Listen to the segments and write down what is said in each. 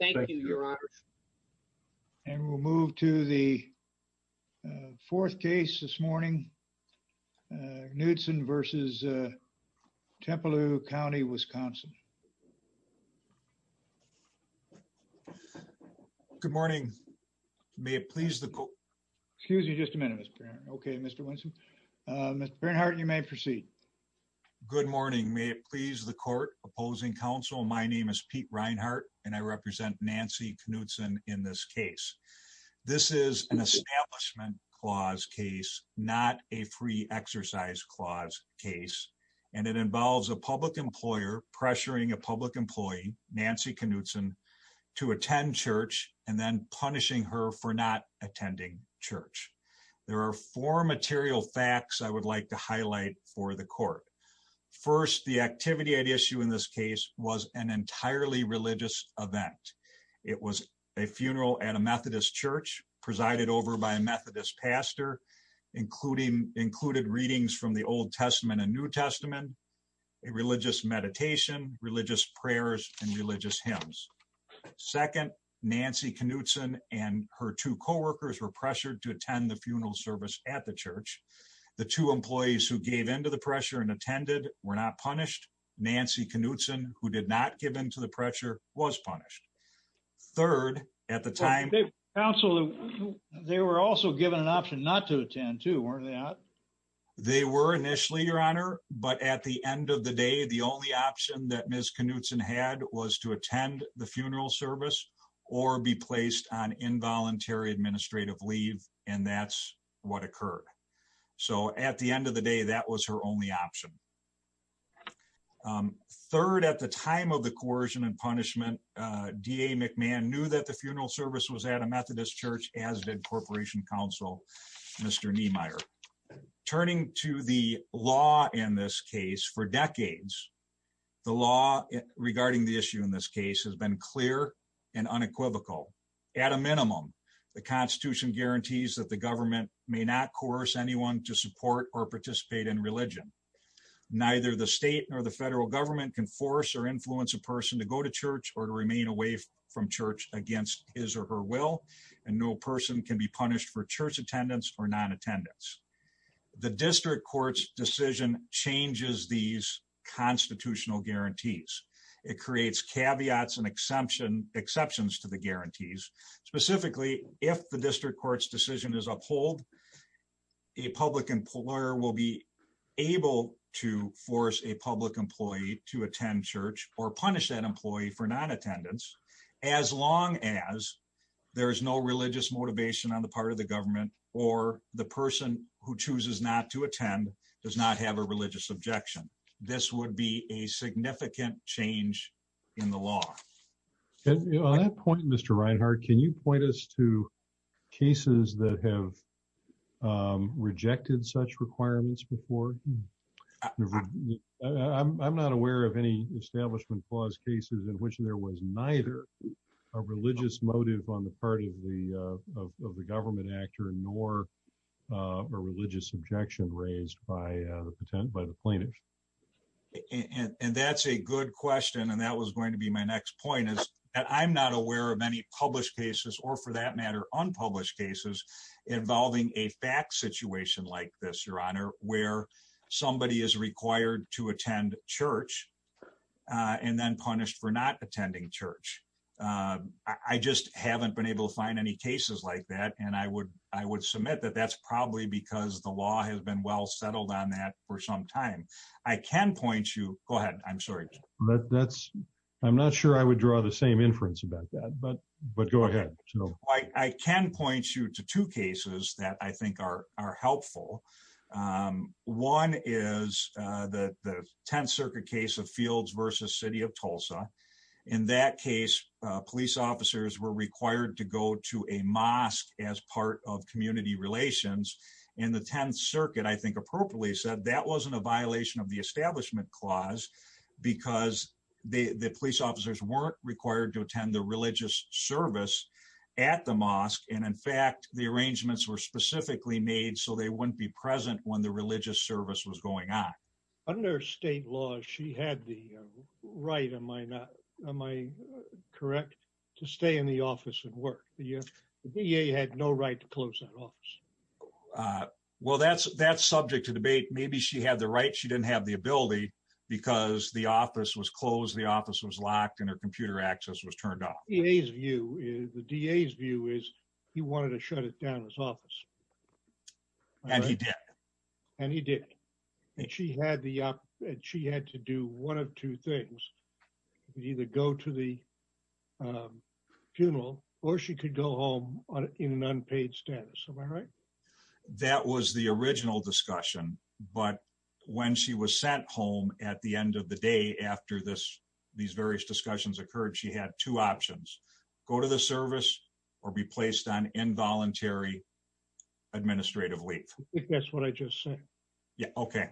Thank you, your honor. And we'll move to the fourth case this morning, Knudtson versus Trempealeau County, Wisconsin. Good morning. May it please the court. Excuse me just a minute, Mr. Bernhardt. Okay, Mr. Winston. Mr. Bernhardt, you may proceed. Good morning. May it please the court. Opposing counsel, my name is Pete Reinhart, and I represent Nancy Knudtson in this case. This is an establishment clause case, not a free exercise clause case. And it involves a public employer pressuring a public employee, Nancy Knudtson, to attend church and then punishing her for not attending church. There are four material facts I would like to highlight for the court. First, the activity issue in this case was an entirely religious event. It was a funeral at a Methodist church presided over by a Methodist pastor, including included readings from the Old Testament and New Testament, a religious meditation, religious prayers, and religious hymns. Second, Nancy Knudtson and her two coworkers were pressured to attend the funeral service at the church. The two employees who gave into the pressure and attended were not punished. Nancy Knudtson, who did not give into the pressure, was punished. Third, at the time... Counsel, they were also given an option not to attend too, weren't they not? They were initially, Your Honor. But at the end of the day, the only option that Ms. Knudtson had was to attend the funeral service or be placed on involuntary administrative leave. And that's what occurred. So at the end of the day, that was her only option. Third, at the time of the coercion and punishment, D.A. McMahon knew that the funeral service was at a Methodist church, as did Corporation Counsel, Mr. Niemeyer. Turning to the law in this case, for decades, the law regarding the issue in this case has been clear and unequivocal. At a minimum, the Constitution guarantees that the government may not coerce anyone to support or participate in religion. Neither the state nor the federal government can force or influence a person to go to church or to remain away from church against his or her will, and no person can be punished for church attendance or non-attendance. The district court's decision changes these constitutional guarantees. It creates caveats and exceptions to the guarantees. Specifically, if the district court's decision is uphold, a public employer will be able to force a public employee to attend church or punish that employee for non-attendance, as long as there is no religious motivation on the part of the government or the person who chooses not to object. This would be a significant change in the law. On that point, Mr. Reinhart, can you point us to cases that have rejected such requirements before? I'm not aware of any Establishment Clause cases in which there was neither a religious motive on the part of the government or the person who chose not to attend church. I just haven't been able to find any cases like that, and I would submit that that's probably because the law has been well settled on that for some time. I can point you to two cases that I think are helpful. One is the 10th Circuit case of Fields v. City of Tulsa. In that case, police officers were I think appropriately said that wasn't a violation of the Establishment Clause because the police officers weren't required to attend the religious service at the mosque. In fact, the arrangements were specifically made so they wouldn't be present when the religious service was going on. Under state law, she had the right, am I correct, to stay in the office and work. The DA had no right to close that office. Well, that's subject to debate. Maybe she had the right. She didn't have the ability because the office was closed, the office was locked, and her computer access was turned off. The DA's view is he wanted to shut it down, his office. And he did. And he did. And she had to do one of two things. Either go to the funeral or she could go home in an unpaid status. Am I right? That was the original discussion. But when she was sent home at the end of the day after these various discussions occurred, she had two options. Go to the service or be placed on involuntary administrative leave. I think that's what I just said. Yeah, okay.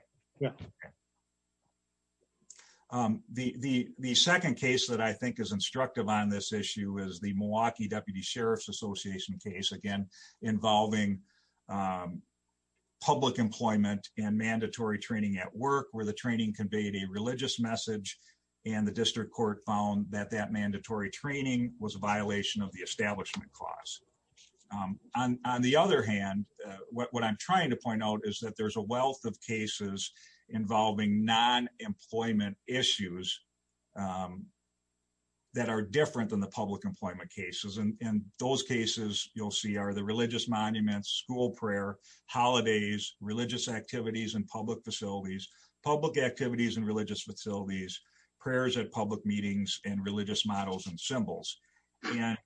The second case that I think is instructive on this issue is the Milwaukee Deputy Sheriff's Association case. Again, involving public employment and mandatory training at work where the training conveyed a religious message and the district court found that that mandatory training was a violation of the establishment clause. On the other hand, what I'm trying to point out is that there's a wealth of cases involving non-employment issues that are different than the public employment cases. And those cases you'll see are the religious monuments, school prayer, holidays, religious activities and public facilities, public activities and religious models and symbols. And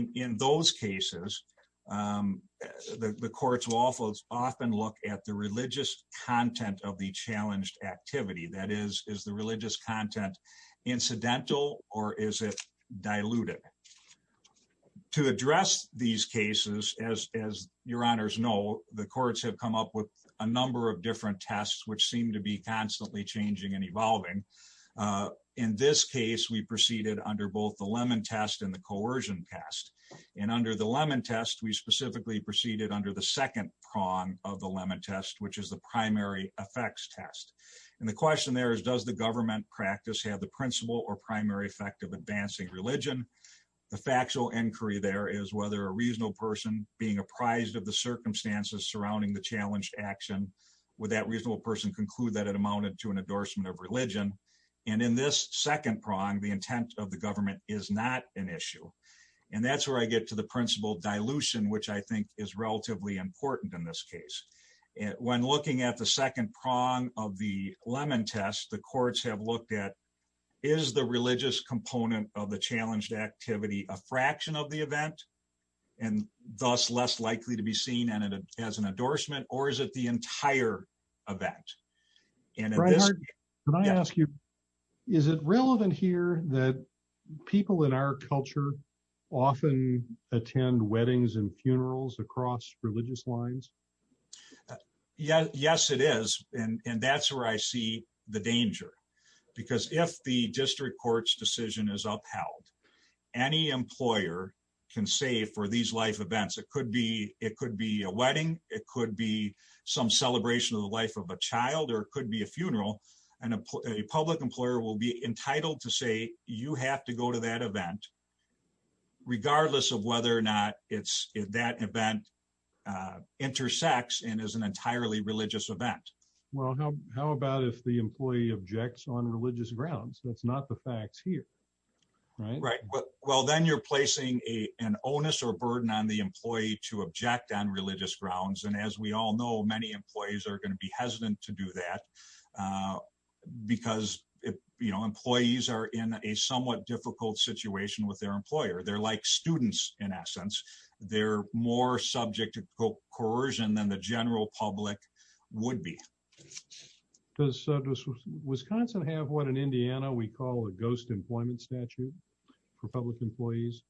in those cases, the courts will often look at the religious content of the challenged activity. That is, is the religious content incidental or is it diluted? To address these cases, as your honors know, the courts have come up with a number of different tests which seem to be constantly changing and evolving. In this case, we proceeded under both the Lemon Test and the Coercion Test. And under the Lemon Test, we specifically proceeded under the second prong of the Lemon Test, which is the Primary Effects Test. And the question there is, does the government practice have the principal or primary effect of advancing religion? The factual inquiry there is whether a reasonable person being apprised of the circumstances surrounding the challenged action, would that reasonable person conclude that it amounted to an endorsement of religion? And in this second prong, the intent of the government is not an issue. And that's where I get to the principal dilution, which I think is relatively important in this case. When looking at the second prong of the Lemon Test, the courts have looked at, is the religious component of the challenged activity a fraction of the event and thus less likely to be seen as an endorsement, or is it the entire event? Brian Hart, can I ask you, is it relevant here that people in our culture often attend weddings and funerals across religious lines? Yes, it is. And that's where I see the danger. Because if the district court's decision is upheld, any employer can save for these life it could be a wedding, it could be some celebration of the life of a child, or it could be a funeral. And a public employer will be entitled to say, you have to go to that event, regardless of whether or not that event intersects and is an entirely religious event. Well, how about if the employee objects on religious grounds? That's not the facts here. Right, right. Well, then you're placing a an onus or burden on the employee to object on religious grounds. And as we all know, many employees are going to be hesitant to do that. Because, you know, employees are in a somewhat difficult situation with their employer, they're like students, in essence, they're more subject to coercion than the general public would be. Does Wisconsin have what in Indiana, we call a ghost employment statute for public employees?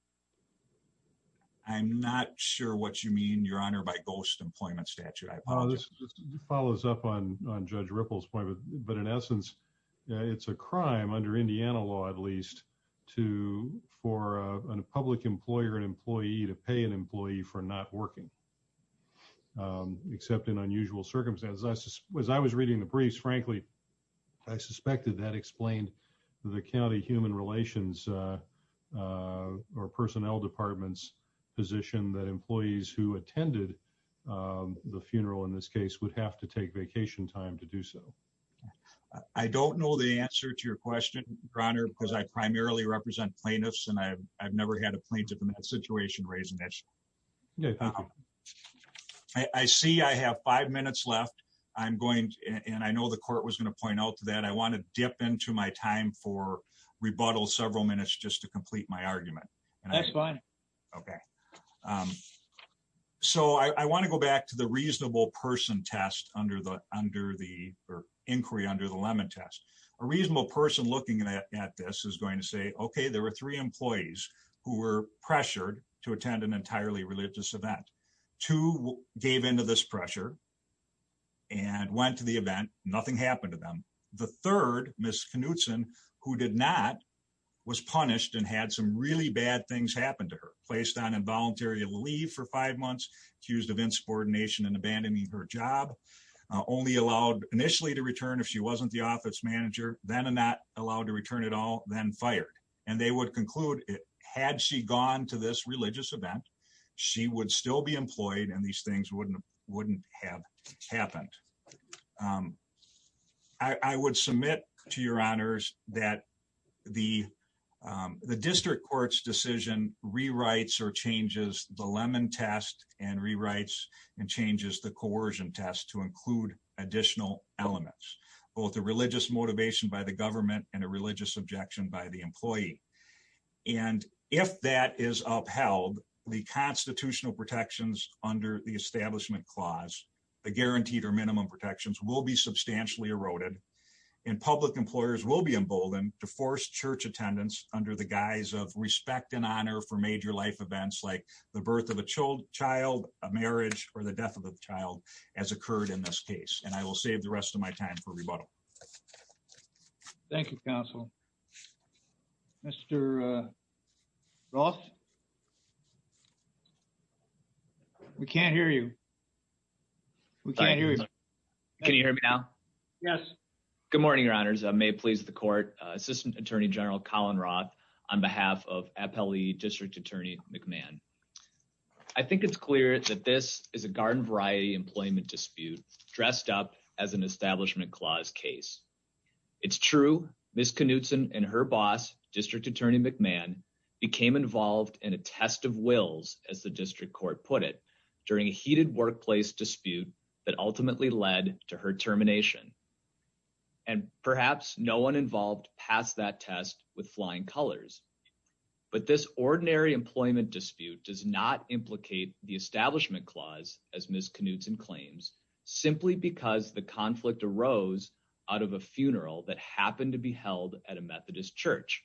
I'm not sure what you mean, Your Honor, by ghost employment statute. Follows up on Judge Ripple's point. But in essence, it's a crime under Indiana law, at least, to for a public employer and employee to pay an employee for not working, except in unusual circumstances. As I was reading the briefs, frankly, I suspected that explained the county human relations or personnel department's position that employees who attended the funeral in this case would have to take vacation time to do so. I don't know the answer to your question, Your Honor, because I primarily represent plaintiffs and I've never had a plaintiff in that situation raise an issue. I see I have five minutes left. I'm going and I know the court was going to point out that I want to dip into my time for rebuttal several minutes just to complete my argument. And that's fine. Okay. So I want to go back to the reasonable person test under the under the inquiry under the lemon test. A reasonable person looking at this is going to say, okay, there were three employees who were pressured to attend an entirely religious event to gave into this pressure and went to the event. Nothing happened to them. The third Miss Knudsen, who did not, was punished and had some really bad things happen to her, placed on involuntary leave for five months, accused of insubordination and abandoning her job, only allowed initially to return if she then not allowed to return at all, then fired. And they would conclude it had she gone to this religious event, she would still be employed. And these things wouldn't wouldn't have happened. I would submit to your honors that the the district court's decision rewrites or changes the lemon test and rewrites and changes the coercion test to include additional elements, both a religious motivation by the government and a religious objection by the employee. And if that is upheld, the constitutional protections under the establishment clause, the guaranteed or minimum protections will be substantially eroded. And public employers will be emboldened to force church attendance under the guise of respect and honor for major life events like the birth of a child, a marriage or the death of a child as occurred in this case. And I will save the rest of my time for rebuttal. Thank you, counsel. Mr. Ross. We can't hear you. We can't hear you. Can you hear me now? Yes. Good morning, your honors. I may please the court. Assistant Attorney General Colin Roth, on behalf of Appellee District Attorney McMahon. I think it's clear that this is a garden variety employment dispute dressed up as an establishment clause case. It's true. Miss Knudsen and her boss, District Attorney McMahon, became involved in a test of wills, as the district court put it, during a heated workplace dispute that ultimately led to her termination. And perhaps no one involved passed that test with flying colors. But this ordinary employment dispute does not implicate the establishment clause, as Miss Knudsen claims, simply because the conflict arose out of a funeral that happened to be held at a Methodist church.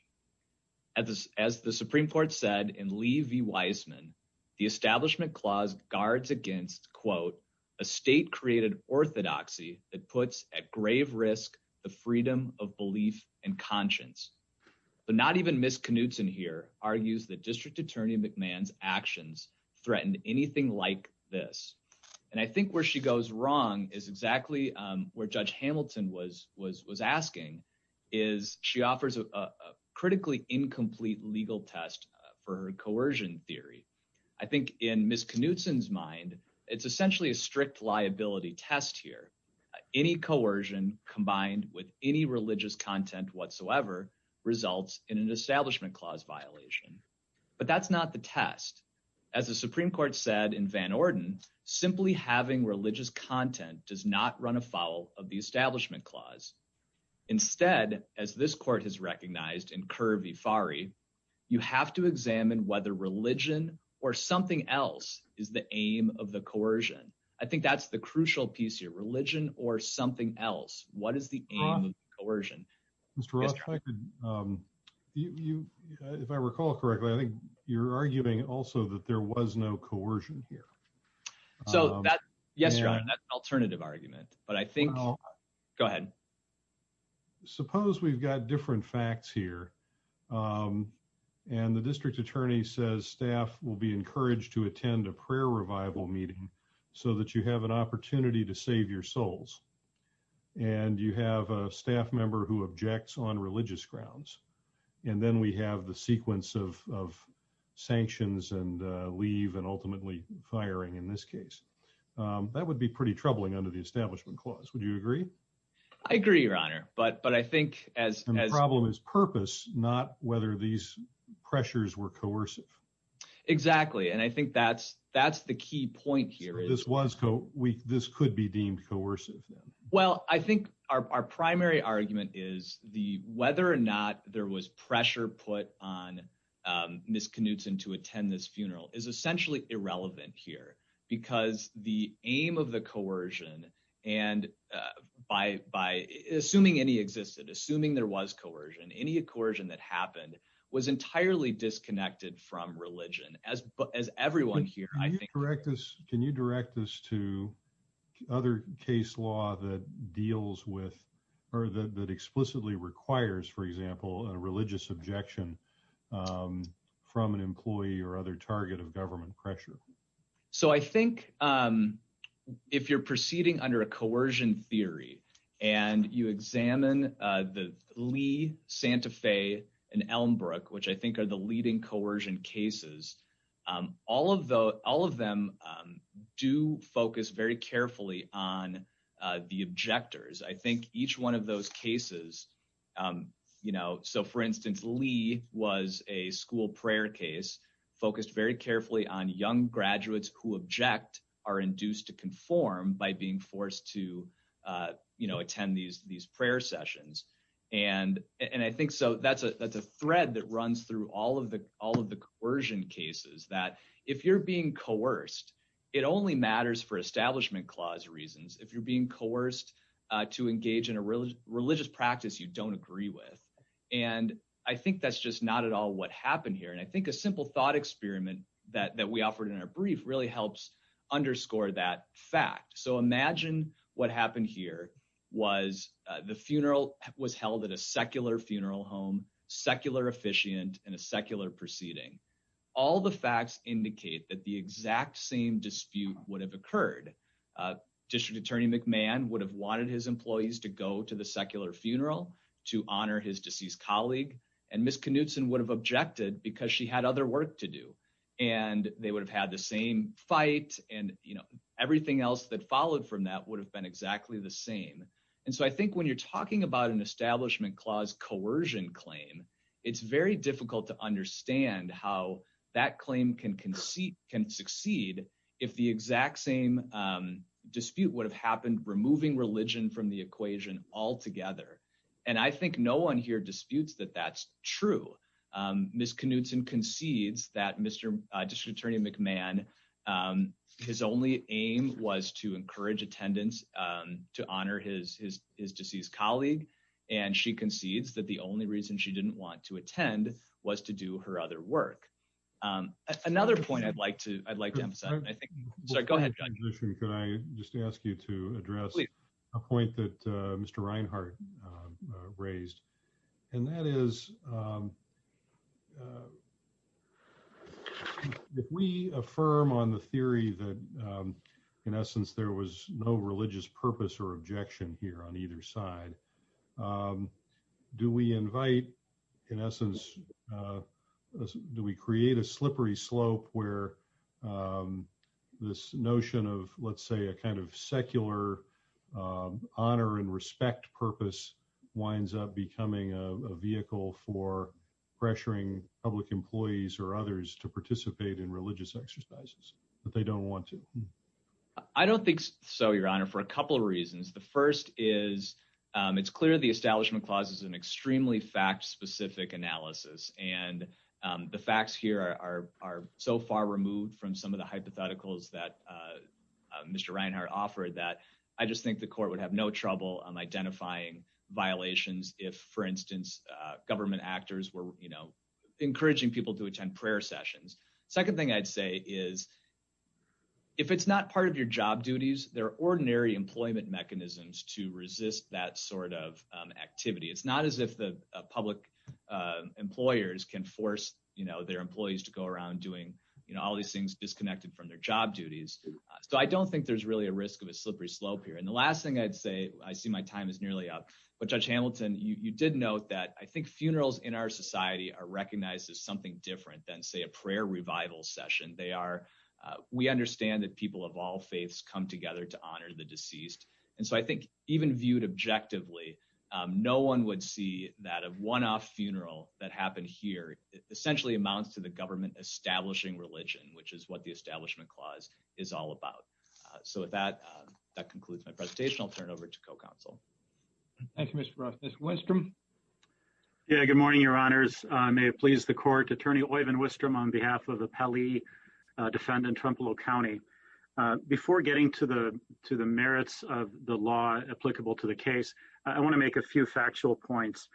As the Supreme Court said in Lee v. Wiseman, the establishment clause guards against, quote, a state created orthodoxy that puts at grave risk, the freedom of belief and conscience. But not even Miss Knudsen here argues that District Attorney McMahon's actions threatened anything like this. And I think where she goes wrong is exactly where Judge Hamilton was asking, is she offers a critically incomplete legal test for coercion theory. I think in Miss Knudsen's mind, it's essentially a strict liability test here. Any coercion combined with any religious content whatsoever results in an establishment clause violation. But that's not the test. As the Supreme Court said in Van Orden, simply having religious content does not run afoul of the establishment clause. Instead, as this court has recognized in Kerr v. Fari, you have to examine whether religion or something else is the aim of the coercion. I think that's the crucial piece here, religion or something else. What is the aim of coercion? Mr. Roth, if I recall correctly, I think you're arguing also that there was no coercion here. So that, yes, Your Honor, that's an alternative argument. But I think, go ahead. Suppose we've got different facts here and the District Attorney says staff will be encouraged to attend a prayer revival meeting so that you have an opportunity to save your souls. And you have a staff member who objects on religious grounds. And then we have the sequence of sanctions and leave and ultimately firing in this case. That would be pretty troubling under the establishment clause. Would you agree? I agree, Your Honor. But I think as... And the problem is purpose, not whether these pressures were coercive. Exactly. And I think that's the key point here. This could be deemed coercive. Well, I think our primary argument is whether or not there was pressure put on Ms. Knutson to attend this funeral is essentially irrelevant here because the aim of coercion and by assuming any existed, assuming there was coercion, any coercion that happened was entirely disconnected from religion. As everyone here... Can you direct us to other case law that deals with or that explicitly requires, for example, a religious objection from an employee or other target of government pressure? So I think if you're proceeding under a coercion theory and you examine the Lee, Santa Fe, and Elmbrook, which I think are the leading coercion cases, all of them do focus very a school prayer case focused very carefully on young graduates who object are induced to conform by being forced to attend these prayer sessions. And I think so that's a thread that runs through all of the coercion cases that if you're being coerced, it only matters for establishment clause reasons. If you're being coerced to engage in a religious practice you don't agree with. And I think that's just not at all what happened here. And I think a simple thought experiment that we offered in our brief really helps underscore that fact. So imagine what happened here was the funeral was held at a secular funeral home, secular officiant, and a secular proceeding. All the facts indicate that the exact same dispute would have occurred. District Attorney McMahon would have wanted his employees to go to the secular funeral to honor his deceased colleague. And Ms. Knutson would have objected because she had other work to do. And they would have had the same fight and everything else that followed from that would have been exactly the same. And so I think when you're talking about an establishment clause coercion claim, it's very difficult to understand how that claim can succeed if the exact same dispute would have happened removing religion from the equation altogether. And I think no one here disputes that that's true. Ms. Knutson concedes that Mr. District Attorney McMahon, his only aim was to encourage attendance to honor his deceased colleague. And she concedes that the only reason she didn't want to attend was to do her other work. Another point I'd like to emphasize, go ahead. Can I just ask you to address a point that Mr. Reinhart raised? And that is, if we affirm on the theory that in essence, there was no religious purpose or objection here on either side, do we invite, in essence, do we create a slippery slope where this notion of, let's say, a kind of secular honor and respect purpose winds up becoming a vehicle for pressuring public employees or others to participate in religious exercises that they don't want to? I don't think so, Your Honor, for a couple of reasons. The first is it's clear the establishment clause is an extremely fact-specific analysis. And the facts here are so far removed from some of the hypotheticals that Mr. Reinhart offered that I just think the court would have no trouble identifying violations if, for instance, government actors were encouraging people to attend prayer sessions. Second thing I'd say is if it's not part of your job duties, there are ordinary employment mechanisms to resist that sort of activity. It's not as if the public employers can force their employees to go around doing all these things disconnected from their job duties. So I don't think there's really a risk of a slippery slope here. And the last thing I'd say, I see my time is nearly up, but Judge Hamilton, you did note that I think funerals in our society are recognized as something different than, say, a prayer revival session. We understand that people of all faiths come together to honor the deceased. And so I think even viewed objectively, no one would see that a one-off funeral that happened here essentially amounts to the government establishing religion, which is what the establishment clause is all about. So with that, that concludes my presentation. I'll turn it over to co-counsel. Thank you, Mr. Roth. Mr. Westrom? Yeah, good morning, Your Honors. May it please the court, Attorney Oyvind Westrom on behalf of the Pali defendant, Trumplow County. Before getting to the merits of the law applicable to the case, I want to make a few factual points.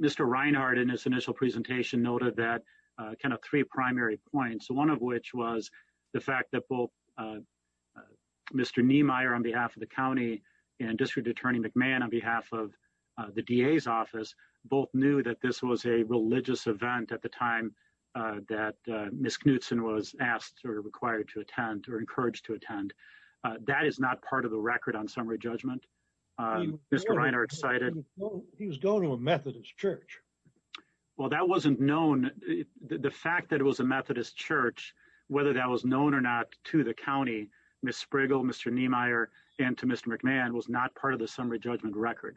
Mr. Reinhart in his initial presentation noted that kind of three primary points, one of which was the fact that both Mr. Niemeyer on behalf of the county and District Attorney McMahon on behalf of the DA's office both knew that this was a religious event at the time that Ms. Knutson was asked or required to attend or encouraged to attend. That is not part of the record on summary judgment. Mr. Reinhart cited... He was going to a Methodist church. Well, that wasn't known. The fact that it was a Methodist church, whether that was known or not to the county, Ms. Sprigal, Mr. Niemeyer, and to Mr. McMahon was not part of the summary judgment record.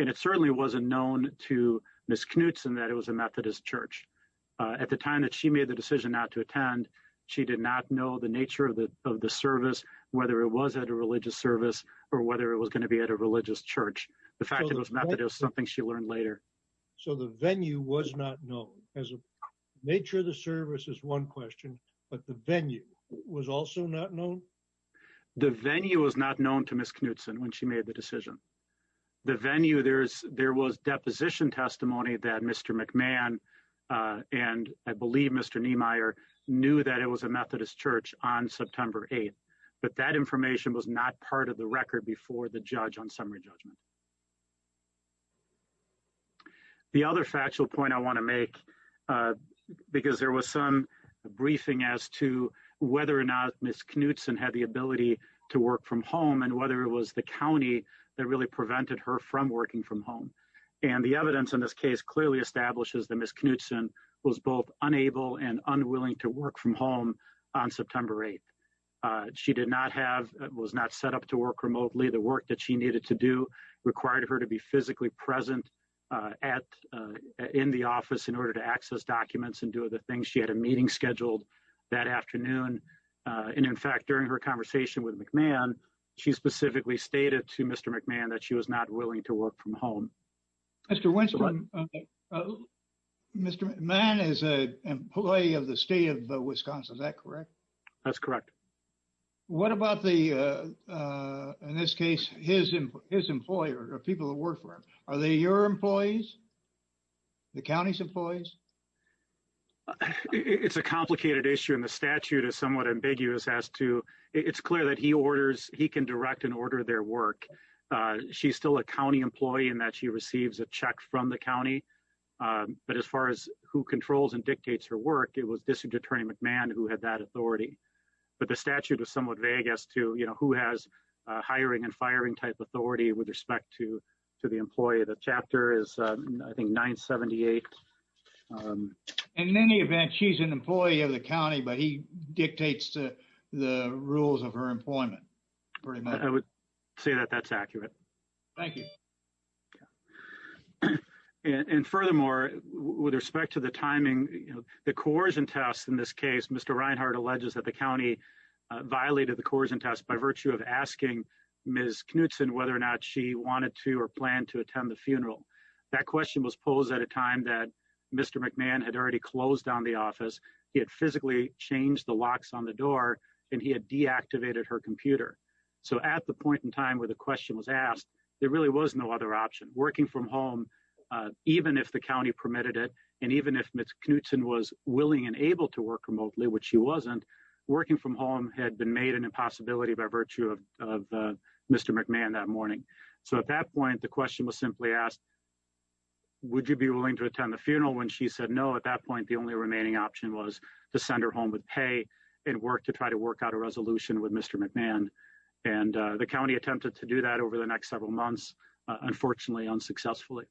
And it certainly wasn't known to Ms. Knutson that it was a Methodist church. At the time that she made the decision not to attend, she did not know the nature of the service, whether it was at a religious service or whether it was going to be at a religious church. The fact that it was Methodist is something she learned later. So the venue was not known. Nature of the service is one question, but the venue was also not known? The venue was not known to Ms. Knutson when she made the decision. The venue, there was deposition testimony that Mr. McMahon and I believe Mr. Niemeyer knew that it was a Methodist church on September 8th, but that information was not part of the record before the judge on summary judgment. The other factual point I want to make, because there was some briefing as to whether or not Ms. Knutson had the ability to work from home and whether it was the county that really prevented her from working from home. And the evidence in this case clearly establishes that Ms. Knutson was both unable and unwilling to work from home on September 8th. She did not have, was not set up to work remotely. The work that she needed to do required her to be physically present in the office in order to access documents and do other things. She had a meeting scheduled that afternoon. And in fact, during her conversation with McMahon, she specifically stated to Mr. McMahon that she was not willing to work from home. Mr. Winston, Mr. McMahon is an employee of the state of Wisconsin, is that correct? That's correct. What about the, in this case, his employer or people that work for him? Are they your employees? The county's employees? It's a complicated issue and the statute is somewhat ambiguous as to, it's clear that he orders, he can direct and order their work. She's still a county employee in that she receives a check from the county. But as far as who controls and dictates her work, it was District Attorney McMahon who had that authority. But the statute is somewhat vague as to, you know, who has hiring and firing type authority with respect to the employee. The in any event, she's an employee of the county, but he dictates the rules of her employment. I would say that that's accurate. Thank you. And furthermore, with respect to the timing, you know, the coercion test in this case, Mr. Reinhart alleges that the county violated the coercion test by virtue of asking Ms. Knutson whether or not she wanted to or planned to attend the funeral. That question was posed at a time that Mr. McMahon had already closed down the office. He had physically changed the locks on the door and he had deactivated her computer. So at the point in time where the question was asked, there really was no other option. Working from home, even if the county permitted it, and even if Ms. Knutson was willing and able to work remotely, which she wasn't, working from home had been made an impossibility by virtue of Mr. McMahon that morning. So at that point, Ms. Knutson was willing to attend the funeral. When she said no, at that point, the only remaining option was to send her home with pay and work to try to work out a resolution with Mr. McMahon. And the county attempted to do that over the next several months, unfortunately, unsuccessfully.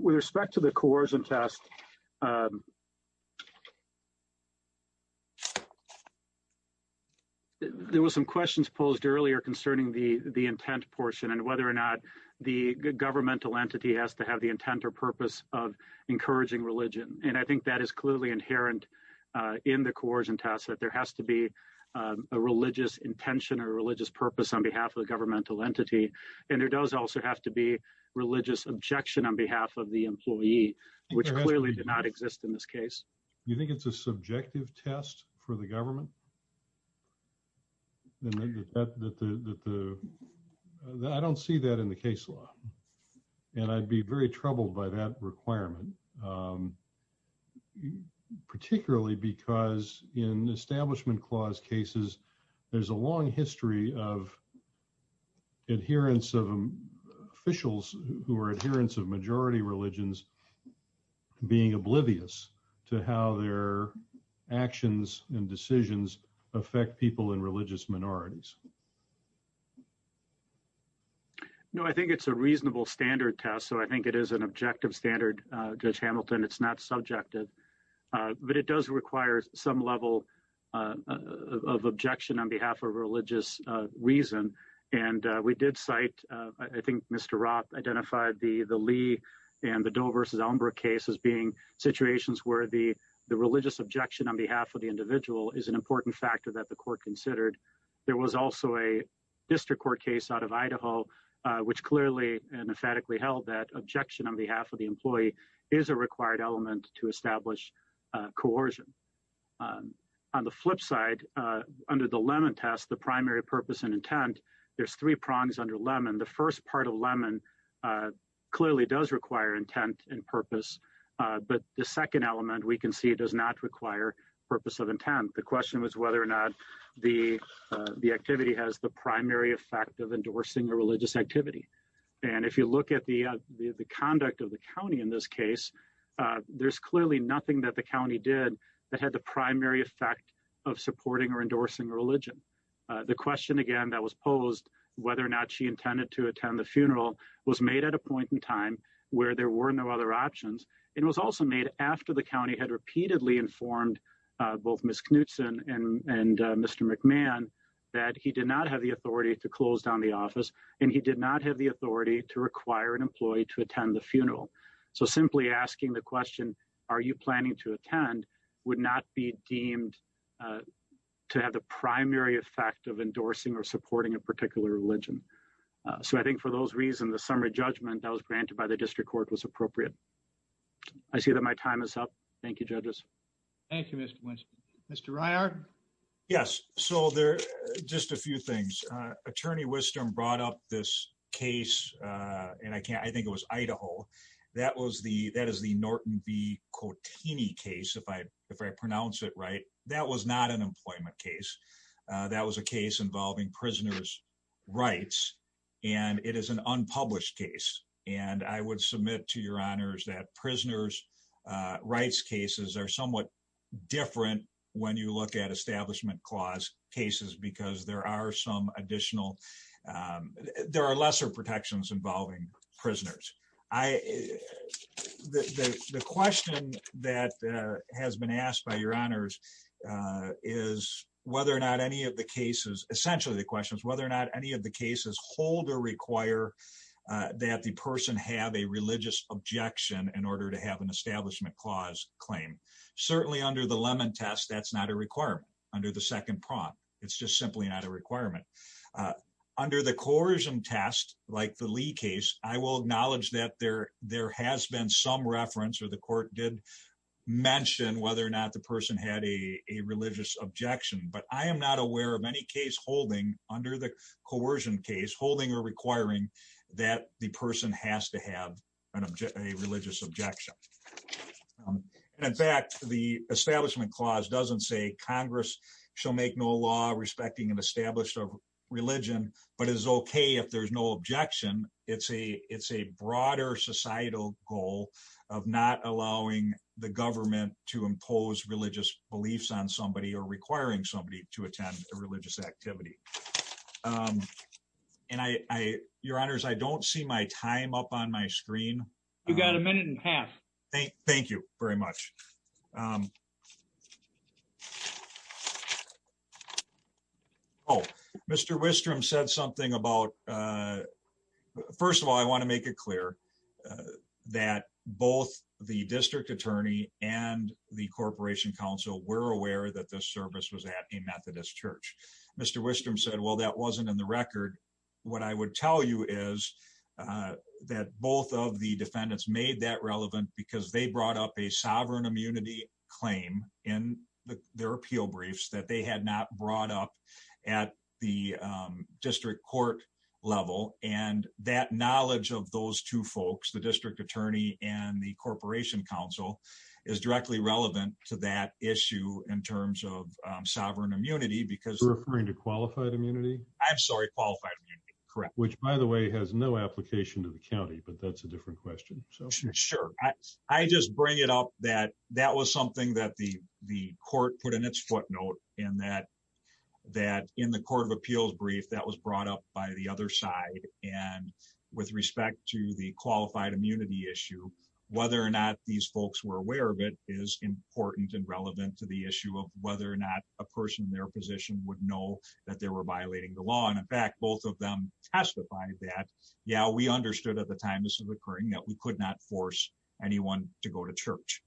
With respect to the coercion test, there were some questions posed earlier concerning the intent portion and whether or not the governmental entity has to have the intent or purpose of encouraging religion. And I think that is clearly inherent in the coercion test, that there has to be a religious intention or religious purpose on behalf of the governmental entity. And there does also have to be religious objection on behalf of the employee, which clearly did not exist in this case. You think it's a subjective test for the government? I don't see that in the case law. And I'd be very troubled by that requirement, particularly because in establishment clause cases, there's a long history of officials who are adherents of majority religions being oblivious to how their actions and decisions affect people in religious minorities. No, I think it's a reasonable standard test. So I think it is an objective standard, Judge Hamilton. It's not subjective, but it does require some level of objection on behalf of the individual. I think Mr. Roth identified the Lee and the Doe versus Elmbrook case as being situations where the religious objection on behalf of the individual is an important factor that the court considered. There was also a district court case out of Idaho, which clearly and emphatically held that objection on behalf of the employee is a required element to establish coercion. On the flip side, under the Lemon test, the primary purpose and intent, there's three prongs under Lemon. The first part of Lemon clearly does require intent and purpose, but the second element, we can see, does not require purpose of intent. The question was whether or not the activity has the primary effect of endorsing a religious activity. And if you look at the conduct of the county in this case, there's clearly nothing that the county did that had the primary effect of supporting or endorsing religion. The question, again, that was posed, whether or not she intended to attend the funeral, was made at a point in time where there were no other options. It was also made after the county had repeatedly informed both Ms. Knutson and Mr. McMahon that he did not have the authority to close down the office, and he did not have the authority to require an employee to attend the funeral. So simply asking the question, are you planning to attend, would not be deemed to have the primary effect of endorsing or supporting a particular religion. So I think for those reasons, the summary judgment that was granted by the district court was appropriate. I see that my time is up. Thank you, judges. Thank you, Mr. Winston. Mr. Reier? Yes. So just a few things. Attorney Wisdom brought up this case, and I think it was Idaho. That is the Norton v. Cotini case, if I pronounce it right. That was not an employment case. That was a case involving prisoners' rights, and it is an unpublished case. And I would submit to your honors that prisoners' rights cases are somewhat different when you look at establishment clause cases, because there are some additional, there are lesser protections involving prisoners. I, the question that has been asked by your honors is whether or not any of the cases, essentially the question is whether or not any of the cases hold or require that the person have a religious objection in order to have an establishment clause claim. Certainly under the Lemon test, that's not a requirement. Under the second prompt, it's just simply not a requirement. Under the coercion test, like the Lee case, I will acknowledge that there has been some reference or the court did mention whether or not the person had a religious objection. But I am not aware of any case holding under the coercion case, holding or requiring that the person has to have a religious objection. And in fact, the establishment clause doesn't say Congress shall make no law respecting an it's a broader societal goal of not allowing the government to impose religious beliefs on somebody or requiring somebody to attend a religious activity. And I, your honors, I don't see my time up on my screen. You got a minute and a half. Thank you very much. Oh, Mr. Wistrom said something about, first of all, I want to make it clear that both the district attorney and the corporation council were aware that this service was at a Methodist church. Mr. Wistrom said, well, that wasn't in the record. What I would tell you is that both of the defendants made that relevant because they brought up a sovereign immunity claim in their appeal briefs that they had not brought up at the district court level. And that knowledge of those two folks, the district attorney and the corporation council is directly relevant to that issue in terms of sovereign immunity, because You're referring to qualified immunity? I'm sorry, qualified immunity, correct. Which by the way, has no application to the county, but that's a different question. Sure. I just bring it up that that was something that the court put in its footnote and that in the court of appeals brief, that was brought up by the other side. And with respect to the qualified immunity issue, whether or not these folks were aware of it is important and relevant to the issue of whether or not a person in their position would know that they were violating the law. And in fact, both of them testified that, yeah, we understood at the time this was occurring that we could not force anyone to go to church.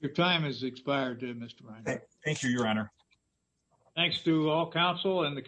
Your time has expired, Mr. Reiner. Thank you, your honor. Thanks to all counsel and the